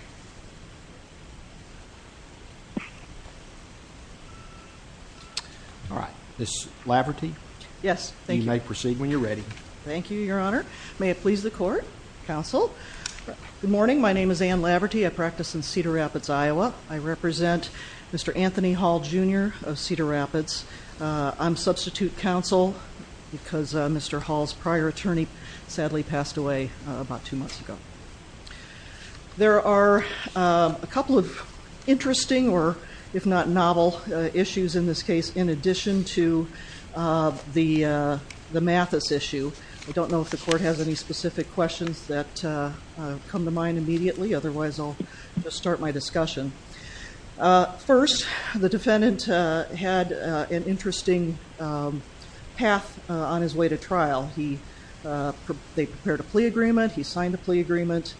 Good morning. My name is Anne Laverty. I practice in Cedar Rapids, Iowa. I represent Mr. Anthony Hall, Jr. of Cedar Rapids. I'm substitute counsel because Mr. Hall's prior attorney sadly passed away about two months ago. There are a couple of interesting, or if not novel, issues in this case in addition to the Mathis issue. I don't know if the court has any specific questions that come to mind immediately, otherwise I'll just start my discussion. First, the defendant had an interesting path on his way to trial. They prepared a plea agreement, he signed a plea agreement,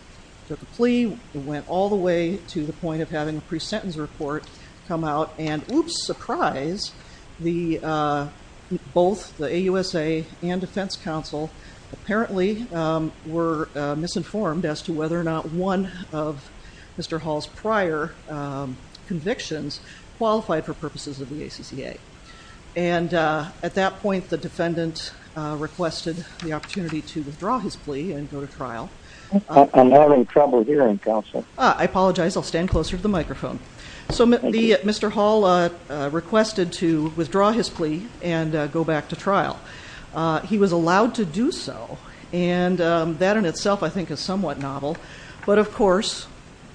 took a plea, went all the way to the point of having a pre-sentence report come out, and oops, surprise, both the AUSA and defense counsel apparently were misinformed as to whether or not one of Mr. Hall's prior convictions qualified for purposes of the ACCA. And at that point the defendant requested the opportunity to withdraw his plea and go to trial. I apologize, I'll stand closer to the microphone. So Mr. Hall requested to withdraw his plea and go back to trial. He was of course,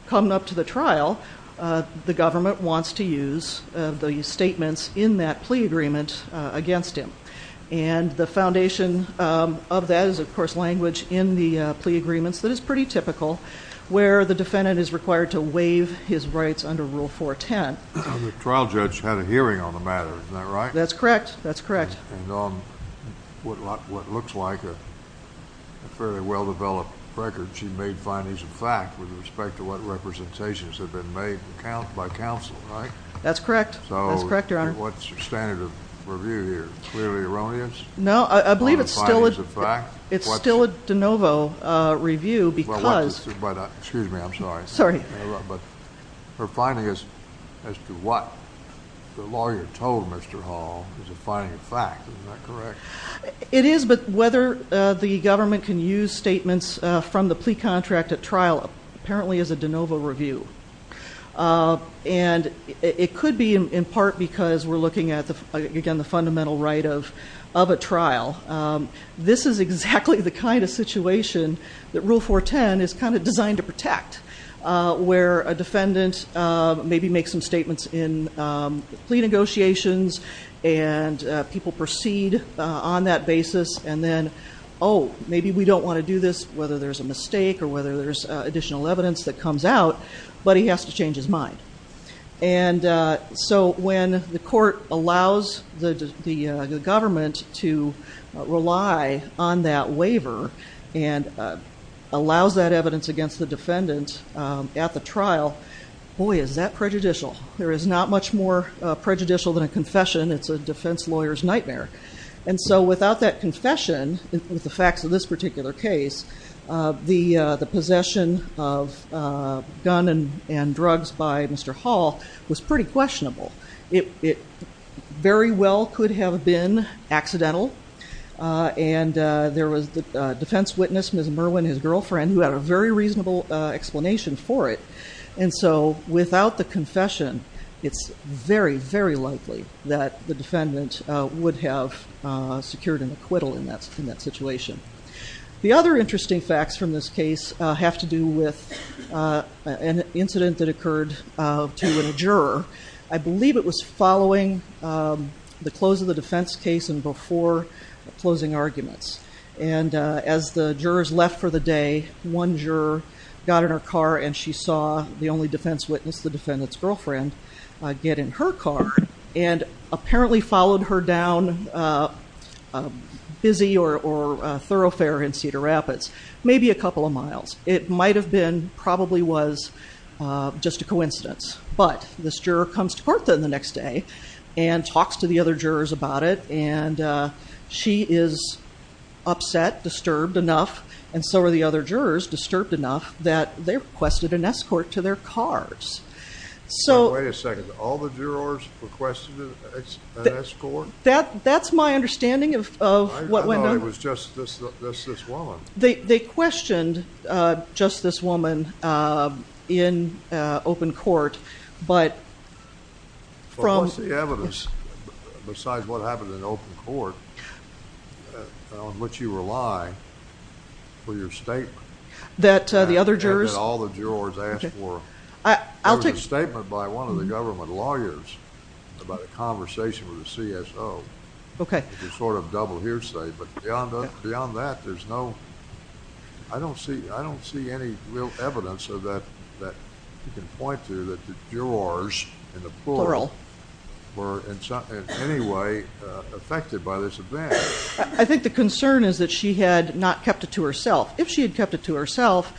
coming up to the trial, the government wants to use the statements in that plea agreement against him. And the foundation of that is of course language in the plea agreements that is pretty typical, where the defendant is required to waive his rights under Rule 410. The trial judge had a hearing on the matter, is that right? That's correct, that's correct. And on what looks like a fairly well-developed record, she made findings of fact with respect to what representations have been made by counsel, right? That's correct, that's correct, Your Honor. So what's your standard of review here? Clearly erroneous? No, I believe it's still a de novo review because... Excuse me, I'm sorry. Sorry. But her findings as to what the lawyer told Mr. Hall is a finding of fact, is that correct? It is, but whether the defendant used statements from the plea contract at trial, apparently is a de novo review. And it could be in part because we're looking at, again, the fundamental right of a trial. This is exactly the kind of situation that Rule 410 is kind of designed to protect, where a defendant maybe makes some statements in plea to do this, whether there's a mistake or whether there's additional evidence that comes out, but he has to change his mind. And so when the court allows the government to rely on that waiver and allows that evidence against the defendant at the trial, boy, is that prejudicial. There is not much more prejudicial than a confession. It's a defense lawyer's nightmare. And so without that confession, with the facts of this particular case, the possession of gun and drugs by Mr. Hall was pretty questionable. It very well could have been accidental, and there was a defense witness, Ms. Merwin, his girlfriend, who had a very reasonable explanation for it. And so without the confession, it's very, very unlikely that the defendant would have secured an acquittal in that situation. The other interesting facts from this case have to do with an incident that occurred to a juror. I believe it was following the close of the defense case and before closing arguments. And as the jurors left for the day, one juror got in her car and she saw the only defense witness, the defendant, and apparently followed her down a busy or thoroughfare in Cedar Rapids, maybe a couple of miles. It might have been, probably was, just a coincidence. But this juror comes to court then the next day and talks to the other jurors about it, and she is upset, disturbed enough, and so are the other jurors, disturbed enough that they requested an escort to their cars. Wait a second. All the jurors requested an escort? That's my understanding of what went on. I thought it was just this woman. They questioned just this woman in open court, but from... What's the evidence, besides what happened in open court, on which you rely for your statement? That the other jurors... It was a statement by one of the government lawyers about a conversation with a CSO. Okay. It was sort of double hearsay, but beyond that, there's no... I don't see any real evidence that you can point to that the jurors, in the plural, were in any way affected by this event. I think the concern is that she had not kept it to herself. If she had kept it to herself,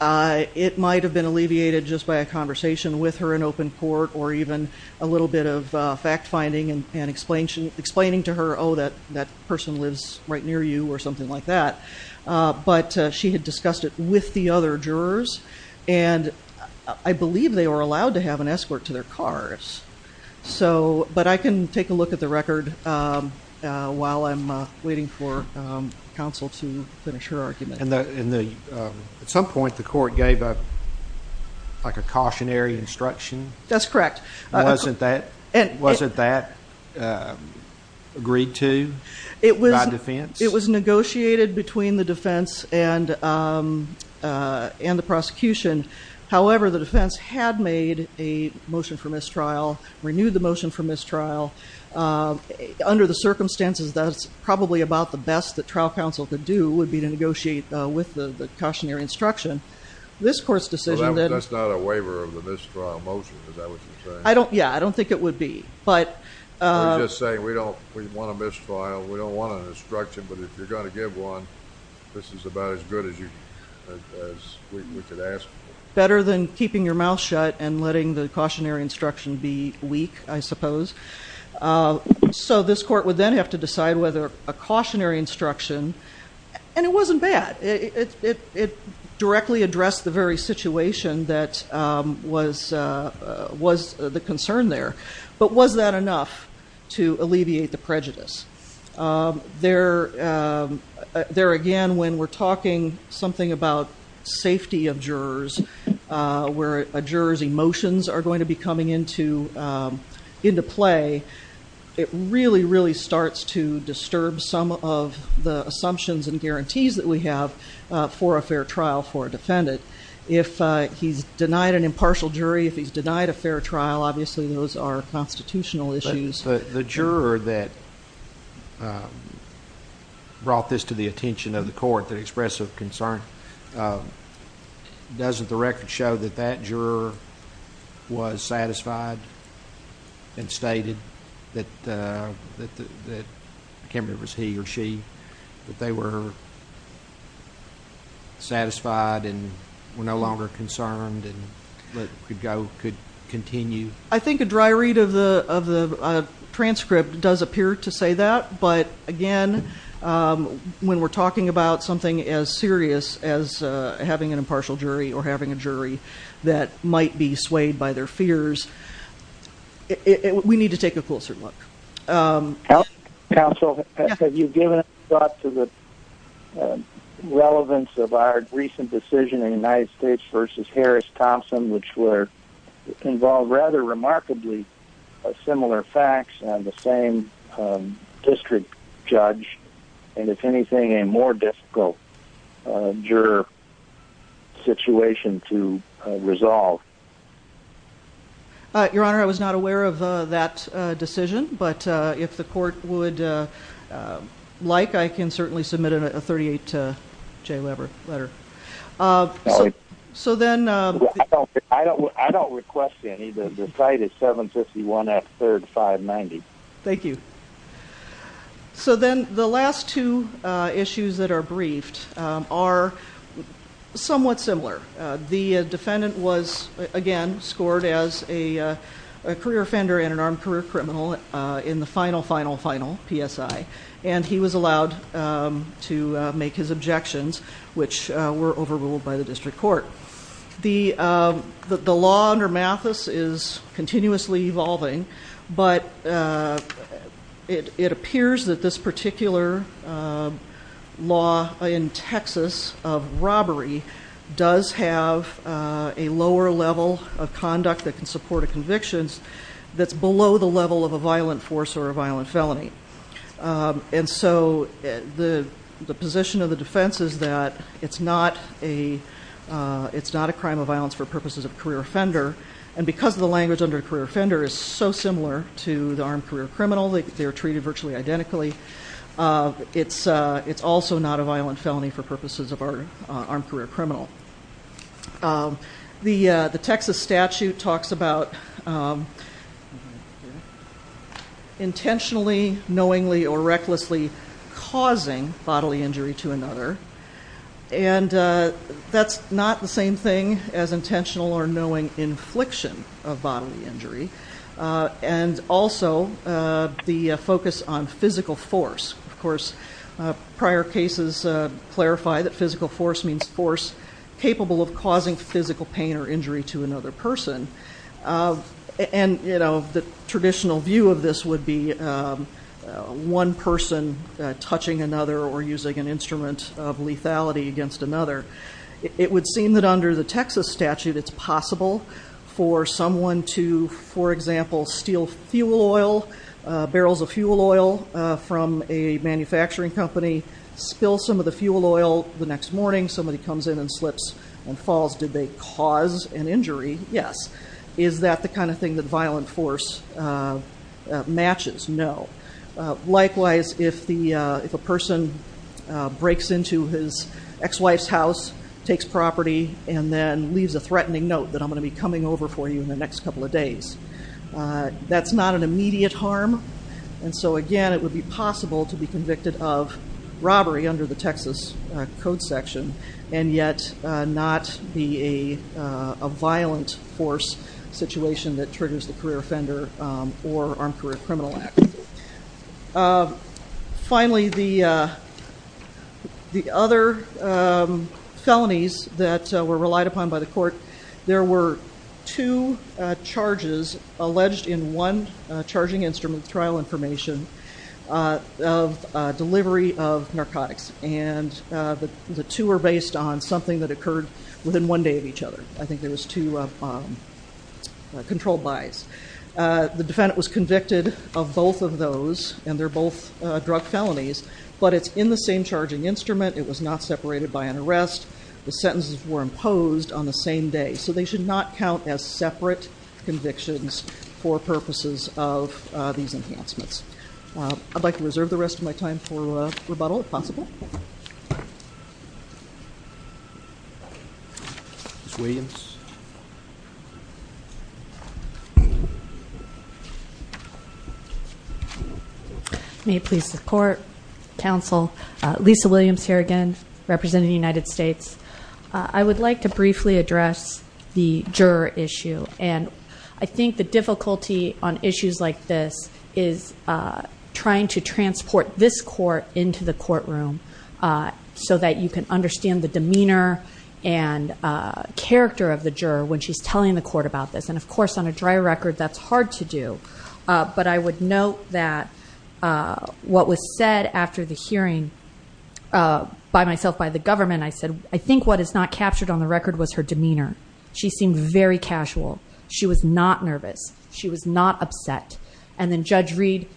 it might have been alleviated just by a conversation with her in open court, or even a little bit of fact-finding and explaining to her, oh, that person lives right near you, or something like that. But she had discussed it with the other jurors, and I believe they were allowed to have an escort to their cars. But I can take a look at the record while I'm waiting for counsel to finish her argument. At some point, the court gave a cautionary instruction? That's correct. Wasn't that agreed to by defense? It was negotiated between the defense and the prosecution. However, the defense had made a motion for mistrial, renewed the motion for mistrial. Under the circumstances, that's probably about the best that trial counsel could do, would be to negotiate with the cautionary instruction. This court's decision... That's not a waiver of the mistrial motion, is that what you're saying? Yeah, I don't think it would be. We're just saying we want a mistrial, we don't want an instruction, but if you're going to give one, this is about as good as we could ask for. Better than keeping your mouth shut and letting the cautionary instruction be weak, I suppose. So this court would then have to decide whether a cautionary instruction, and it wasn't bad. It directly addressed the very situation that was the concern there. But was that enough to alleviate the prejudice? There, again, when we're talking something about safety of jurors, where a juror's emotions are going to be coming into play, it really, really starts to disturb some of the assumptions and guarantees that we have for a fair trial for a defendant. If he's denied an impartial jury, if he's denied a fair trial, obviously those are constitutional issues. The juror that brought this to the attention of the court that expressed a concern, doesn't the record show that that juror was satisfied and stated that it was he or she, that they were satisfied and were no longer concerned and could continue? I think a dry read of the transcript does appear to say that. But again, when we're talking about something as serious as having an impartial jury or having a jury that might be swayed by their fears, we need to take a closer look. Counsel, have you given thought to the relevance of our recent decision in the United States v. Harris-Thompson, which involved rather remarkably similar facts on the same district judge, and if anything, a more difficult juror situation to resolve? Your Honor, I was not aware of that decision, but if the court would like, I can certainly submit a 38-J letter. I don't request any. The cite is 751 F 3rd 590. Thank you. So then the last two issues that are briefed are somewhat similar. The defendant was, again, scored as a career offender and an armed career criminal in the final, final, final PSI, and he was allowed to make his objections, which were overruled by the district court. The law under Mathis is continuously evolving, but it appears that this particular law in Texas of robbery does have a lower level of conduct that can support a conviction that's below the level of a violent force or a violent felony. And so the position of the defense is that it's not a crime of violence for purposes of a career offender, and because the language under a career offender is so similar to the armed career criminal, they're treated virtually identically, it's also not a violent felony for purposes of an armed career criminal. The Texas statute talks about intentionally, knowingly, or recklessly causing bodily injury to another, and that's not the same thing as intentional or knowing infliction of bodily injury, and also the focus on physical force. Of course, prior cases clarify that physical force means force capable of causing physical pain or injury to another person, and the traditional view of this would be one person touching another or using an instrument of lethality against another. It would seem that under the Texas statute it's possible for someone to, for example, steal fuel oil, barrels of fuel oil from a manufacturing company, spill some of the fuel oil the next morning, somebody comes in and slips and falls. Did they cause an injury? Yes. Is that the kind of thing that violent force matches? No. Likewise, if a person breaks into his ex-wife's house, takes property, and then leaves a threatening note that I'm going to be coming over for you in the next couple of days, that's not an immediate harm. And so, again, it would be possible to be convicted of robbery under the Texas Code section and yet not be a violent force situation that triggers the Career Offender or Armed Career Criminal Act. Finally, the other felonies that were relied upon by the court, there were two charges alleged in one charging instrument trial information of delivery of narcotics, and the two were based on something that occurred within one day of each other. I think there was two controlled buys. The defendant was convicted of both of those, and they're both drug felonies, but it's in the same charging instrument. It was not separated by an arrest. The sentences were imposed on the same day. So they should not count as separate convictions for purposes of these enhancements. I'd like to reserve the rest of my time for rebuttal, if possible. Ms. Williams. May it please the court, counsel, Lisa Williams here again, representing the United States. I would like to briefly address the juror issue, and I think the difficulty on issues like this is trying to transport this court into the courtroom so that you can understand the demeanor and character of the juror when she's telling the court about this. And, of course, on a dry record, that's hard to do. But I would note that what was said after the hearing by myself, by the government, I said, I think what is not captured on the record was her demeanor. She seemed very casual. She was not nervous. She was not upset. And then Judge Reed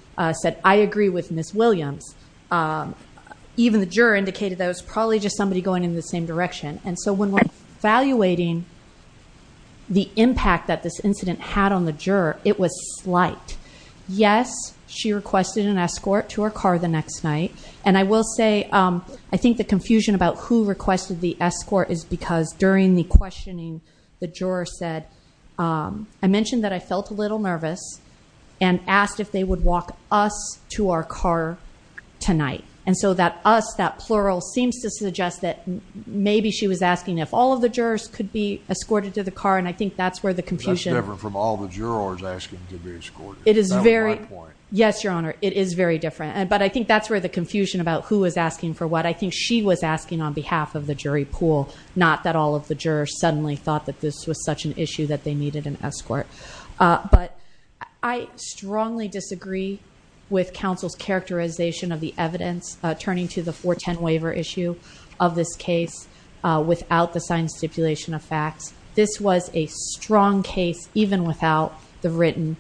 said, I agree with Ms. Williams. Even the juror indicated that it was probably just somebody going in the same direction. And so when we're evaluating the impact that this incident had on the juror, it was slight. Yes, she requested an escort to her car the next night. And I will say, I think the confusion about who requested the escort is because during the questioning, the juror said, I mentioned that I felt a little nervous and asked if they would walk us to our car tonight. And so that us, that plural, seems to suggest that maybe she was asking if all of the jurors could be escorted to the car. And I think that's where the confusion... That's different from all the jurors asking to be escorted. It is very... That was my point. Yes, Your Honor, it is very different. But I think that's where the confusion about who was asking for what. I think she was asking on behalf of the jury pool, not that all of the jurors suddenly thought that this was such an issue that they needed an escort. But I strongly disagree with counsel's characterization of the evidence, turning to the 410 waiver issue of this case, without the signed stipulation of facts. This was a strong case, even without the written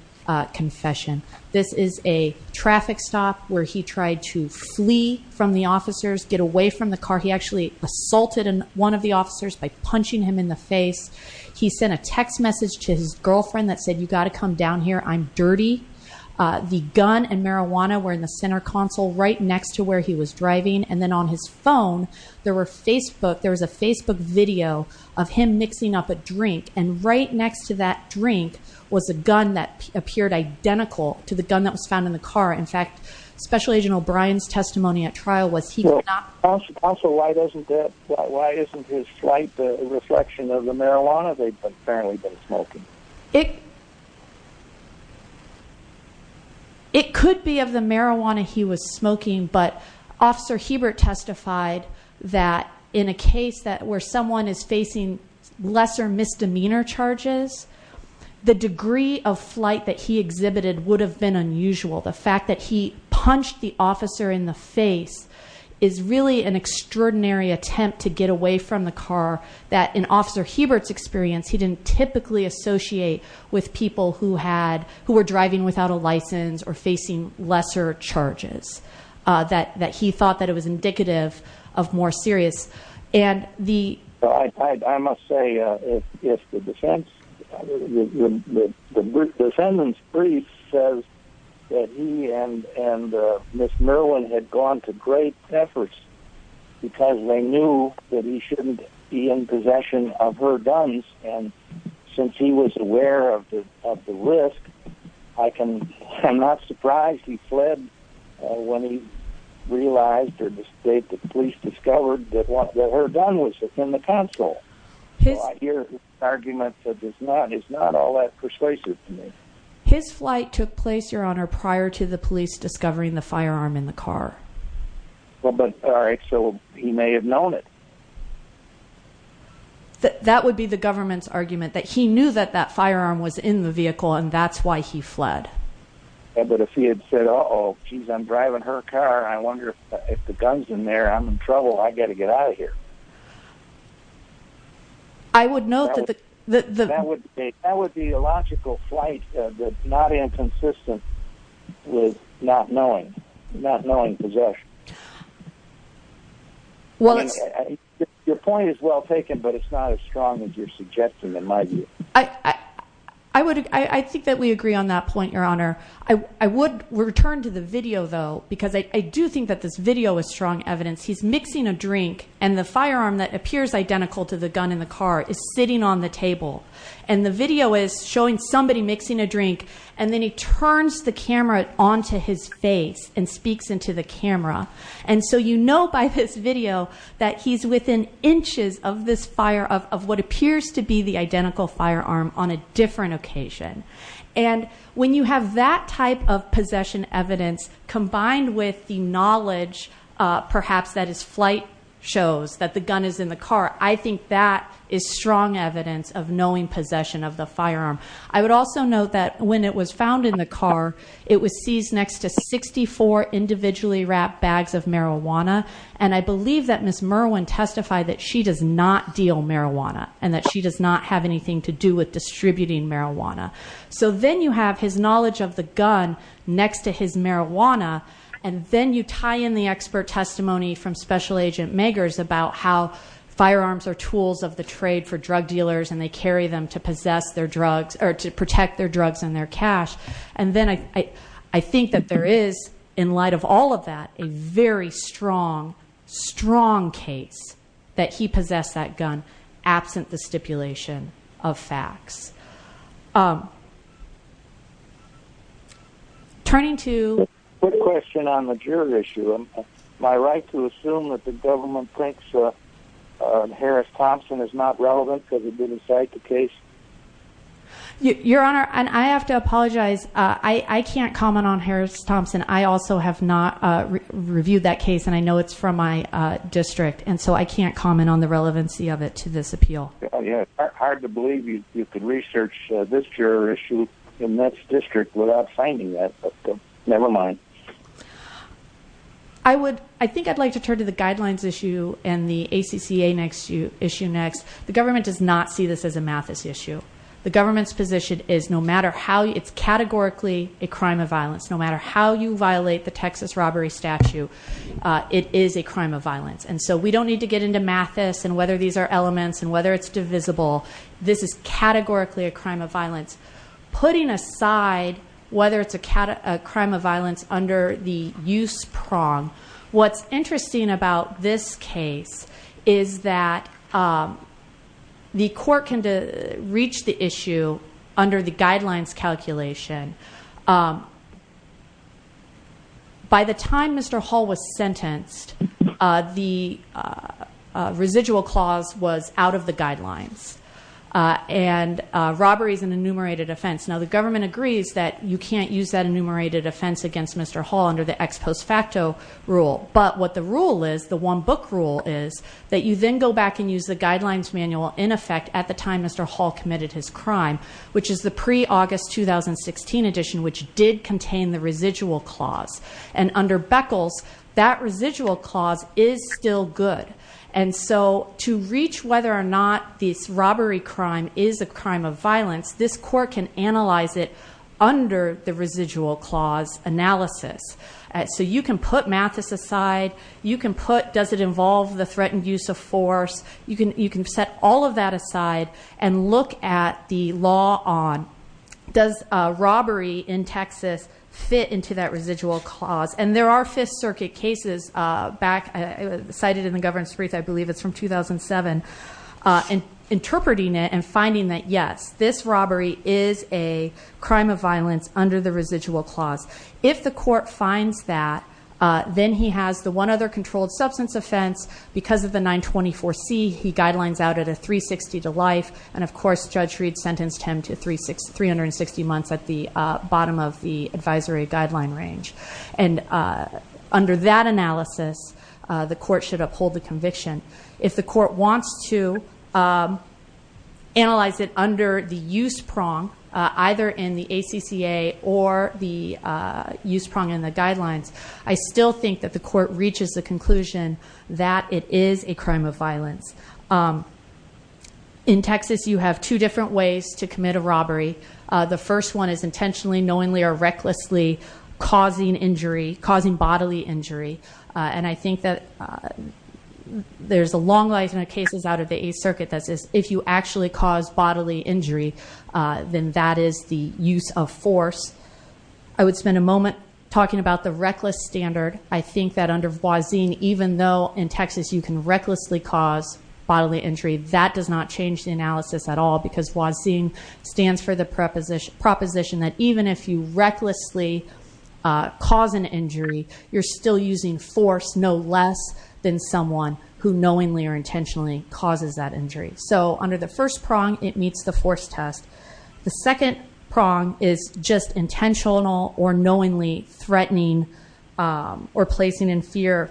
confession. This is a traffic stop where he tried to flee from the officers, get away from the car. He actually assaulted one of the officers by punching him in the face. He sent a text message to his girlfriend that said, you've got to come down here, I'm dirty. The gun and marijuana were in the center console, right next to where he was driving. And then on his phone, there was a Facebook video of him mixing up a drink. And right next to that drink was a gun that appeared identical to the gun that was found in the car. In fact, Special Agent O'Brien's testimony at trial was he was not... Counsel, why isn't his flight a reflection of the marijuana they'd apparently been smoking? It could be of the marijuana he was smoking, but Officer Hebert testified that in a case where someone is facing lesser misdemeanor charges, the degree of flight that he exhibited would have been unusual. The fact that he punched the officer in the face is really an extraordinary attempt to get away from the car that in Officer Hebert's experience he didn't typically associate with people who had... who were driving without a license or facing lesser charges, that he thought that it was indicative of more serious. I must say, if the defense... the defendant's brief says that he and Ms. Merwin had gone to great efforts because they knew that he shouldn't be in possession of her guns, and since he was aware of the risk, I'm not surprised he fled when he realized or the state that the police discovered that what they were done with was in the console. I hear an argument that is not all that persuasive to me. His flight took place, Your Honor, prior to the police discovering the firearm in the car. Well, but... all right, so he may have known it. That would be the government's argument, that he knew that that firearm was in the vehicle and that's why he fled. But if he had said, uh-oh, geez, I'm driving her car. I wonder if the gun's in there. I'm in trouble. I've got to get out of here. I would note that the... That would be a logical flight that's not inconsistent with not knowing possession. Your point is well taken, but it's not as strong as you're suggesting, in my view. I think that we agree on that point, Your Honor. I would return to the video, though, because I do think that this video is strong evidence. He's mixing a drink, and the firearm that appears identical to the gun in the car is sitting on the table. And the video is showing somebody mixing a drink, and then he turns the camera onto his face and speaks into the camera. And so you know by this video that he's within inches of this fire, of what appears to be the identical firearm, on a different occasion. And when you have that type of possession evidence combined with the knowledge, perhaps, that his flight shows that the gun is in the car, I think that is strong evidence of knowing possession of the firearm. I would also note that when it was found in the car, it was seized next to 64 individually wrapped bags of marijuana. And I believe that Ms. Merwin testified that she does not deal marijuana, and that she does not have anything to do with distributing marijuana. So then you have his knowledge of the gun next to his marijuana. And then you tie in the expert testimony from Special Agent Magers about how firearms are tools of the trade for drug dealers. And they carry them to protect their drugs and their cash. And then I think that there is, in light of all of that, a very strong, strong case that he possessed that gun absent the stipulation of facts. Turning to... Quick question on the jury issue. Am I right to assume that the government thinks Harris-Thompson is not relevant because he didn't cite the case? Your Honor, I have to apologize. I can't comment on Harris-Thompson. I also have not reviewed that case, and I know it's from my district. And so I can't comment on the relevancy of it to this appeal. Yeah, it's hard to believe you could research this juror issue in this district without finding that. But never mind. I think I'd like to turn to the guidelines issue and the ACCA issue next. The government does not see this as a Mathis issue. The government's position is no matter how you... It's categorically a crime of violence. No matter how you violate the Texas robbery statute, it is a crime of violence. And so we don't need to get into Mathis and whether these are elements and whether it's divisible. This is categorically a crime of violence. Putting aside whether it's a crime of violence under the use prong, what's interesting about this case is that the court can reach the issue under the guidelines calculation. By the time Mr. Hall was sentenced, the residual clause was out of the guidelines. And robbery is an enumerated offense. Now, the government agrees that you can't use that enumerated offense against Mr. Hall under the ex post facto rule. But what the rule is, the one book rule, is that you then go back and use the guidelines manual in effect at the time Mr. Hall committed his crime, which is the pre-August 2016 edition, which did contain the residual clause. And under Beckles, that residual clause is still good. And so to reach whether or not this robbery crime is a crime of violence, this court can analyze it under the residual clause analysis. So you can put Mathis aside. You can put does it involve the threatened use of force. You can set all of that aside and look at the law on does robbery in Texas fit into that residual clause. And there are Fifth Circuit cases back, cited in the governance brief, I believe it's from 2007, interpreting it and finding that, yes, this robbery is a crime of violence under the residual clause. If the court finds that, then he has the one other controlled substance offense. Because of the 924C, he guidelines out at a 360 to life. And, of course, Judge Reed sentenced him to 360 months at the bottom of the advisory guideline range. And under that analysis, the court should uphold the conviction. If the court wants to analyze it under the use prong, either in the ACCA or the use prong in the guidelines, I still think that the court reaches the conclusion that it is a crime of violence. In Texas, you have two different ways to commit a robbery. The first one is intentionally, knowingly, or recklessly causing injury, causing bodily injury. And I think that there's a long line of cases out of the Eighth Circuit that says if you actually cause bodily injury, then that is the use of force. I would spend a moment talking about the reckless standard. I think that under Wazin, even though in Texas you can recklessly cause bodily injury, that does not change the analysis at all because Wazin stands for the proposition that even if you recklessly cause an injury, you're still using force no less than someone who knowingly or intentionally causes that injury. So under the first prong, it meets the force test. The second prong is just intentional or knowingly threatening or placing in fear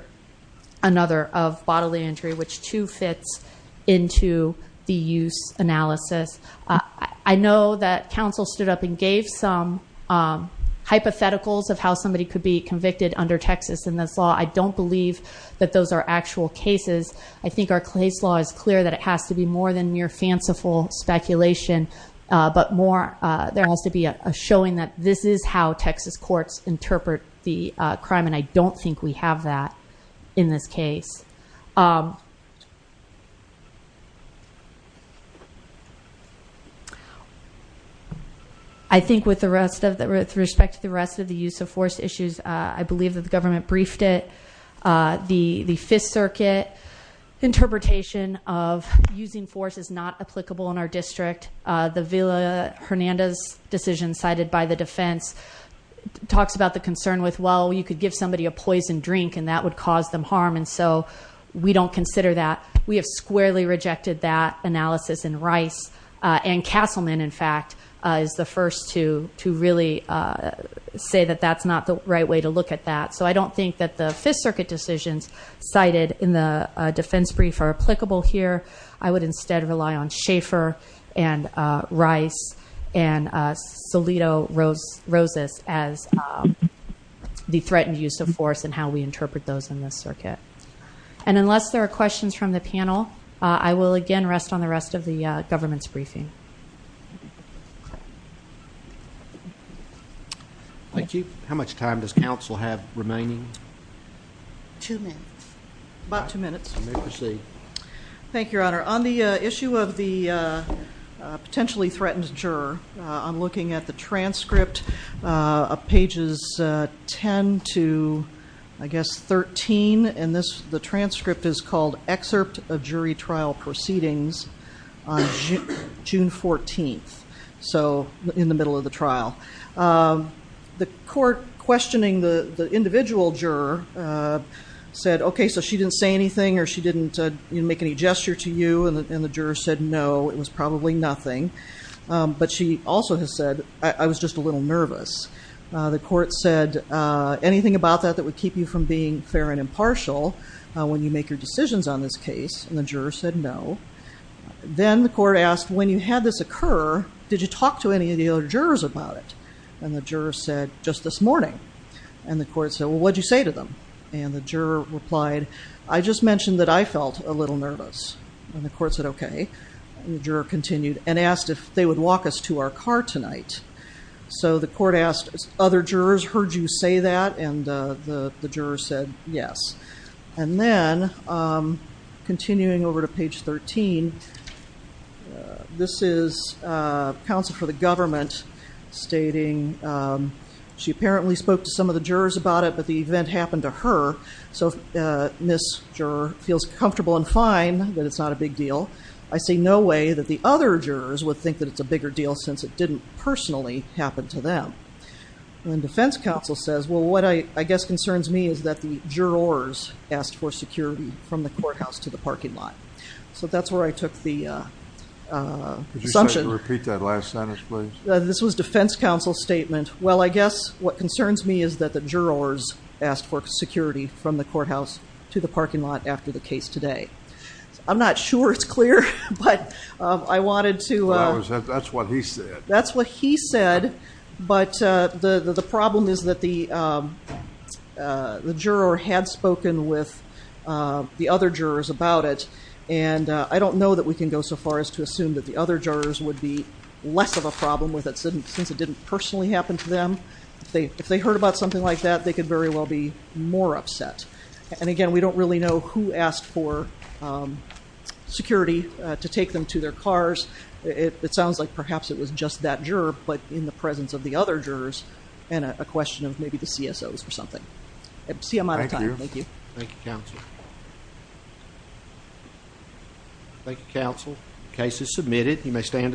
another of bodily injury, which too fits into the use analysis. I know that counsel stood up and gave some hypotheticals of how somebody could be convicted under Texas in this law. I don't believe that those are actual cases. I think our case law is clear that it has to be more than mere fanciful speculation, but more there has to be a showing that this is how Texas courts interpret the crime, and I don't think we have that in this case. I think with respect to the rest of the use of force issues, I believe that the government briefed it. The Fifth Circuit interpretation of using force is not applicable in our district. The Villa-Hernandez decision cited by the defense talks about the concern with, well, you could give somebody a poison drink and that would cause them harm, and so we don't consider that. We have squarely rejected that analysis, and Rice and Castleman, in fact, is the first to really say that that's not the right way to look at that. So I don't think that the Fifth Circuit decisions cited in the defense brief are applicable here. I would instead rely on Schaefer and Rice and Solito-Rosas as the threatened use of force and how we interpret those in this circuit. And unless there are questions from the panel, I will, again, rest on the rest of the government's briefing. Thank you. How much time does counsel have remaining? Two minutes. About two minutes. You may proceed. Thank you, Your Honor. On the issue of the potentially threatened juror, I'm looking at the transcript of pages 10 to, I guess, 13, and the transcript is called Excerpt of Jury Trial Proceedings on June 14th, so in the middle of the trial. The court questioning the individual juror said, okay, so she didn't say anything or she didn't make any gesture to you, and the juror said, no, it was probably nothing. But she also has said, I was just a little nervous. The court said, anything about that that would keep you from being fair and impartial when you make your decisions on this case? And the juror said, no. Then the court asked, when you had this occur, did you talk to any of the other jurors about it? And the juror said, just this morning. And the court said, well, what did you say to them? And the juror replied, I just mentioned that I felt a little nervous. And the court said, okay. And the juror continued and asked if they would walk us to our car tonight. So the court asked, other jurors heard you say that? And the juror said, yes. And then, continuing over to page 13, this is counsel for the government stating, she apparently spoke to some of the jurors about it, but the event happened to her. So this juror feels comfortable and fine that it's not a big deal. I see no way that the other jurors would think that it's a bigger deal since it didn't personally happen to them. And then defense counsel says, well, what I guess concerns me is that the jurors asked for security from the courthouse to the parking lot. So that's where I took the assumption. Could you repeat that last sentence, please? This was defense counsel's statement. Well, I guess what concerns me is that the jurors asked for security from the courthouse to the parking lot after the case today. I'm not sure it's clear, but I wanted to. That's what he said. That's what he said, but the problem is that the juror had spoken with the other jurors about it. And I don't know that we can go so far as to assume that the other jurors would be less of a problem with it since it didn't personally happen to them. If they heard about something like that, they could very well be more upset. And again, we don't really know who asked for security to take them to their cars. It sounds like perhaps it was just that juror, but in the presence of the other jurors and a question of maybe the CSOs or something. I see I'm out of time. Thank you. Thank you, counsel. Thank you, counsel. The case is submitted. You may stand aside.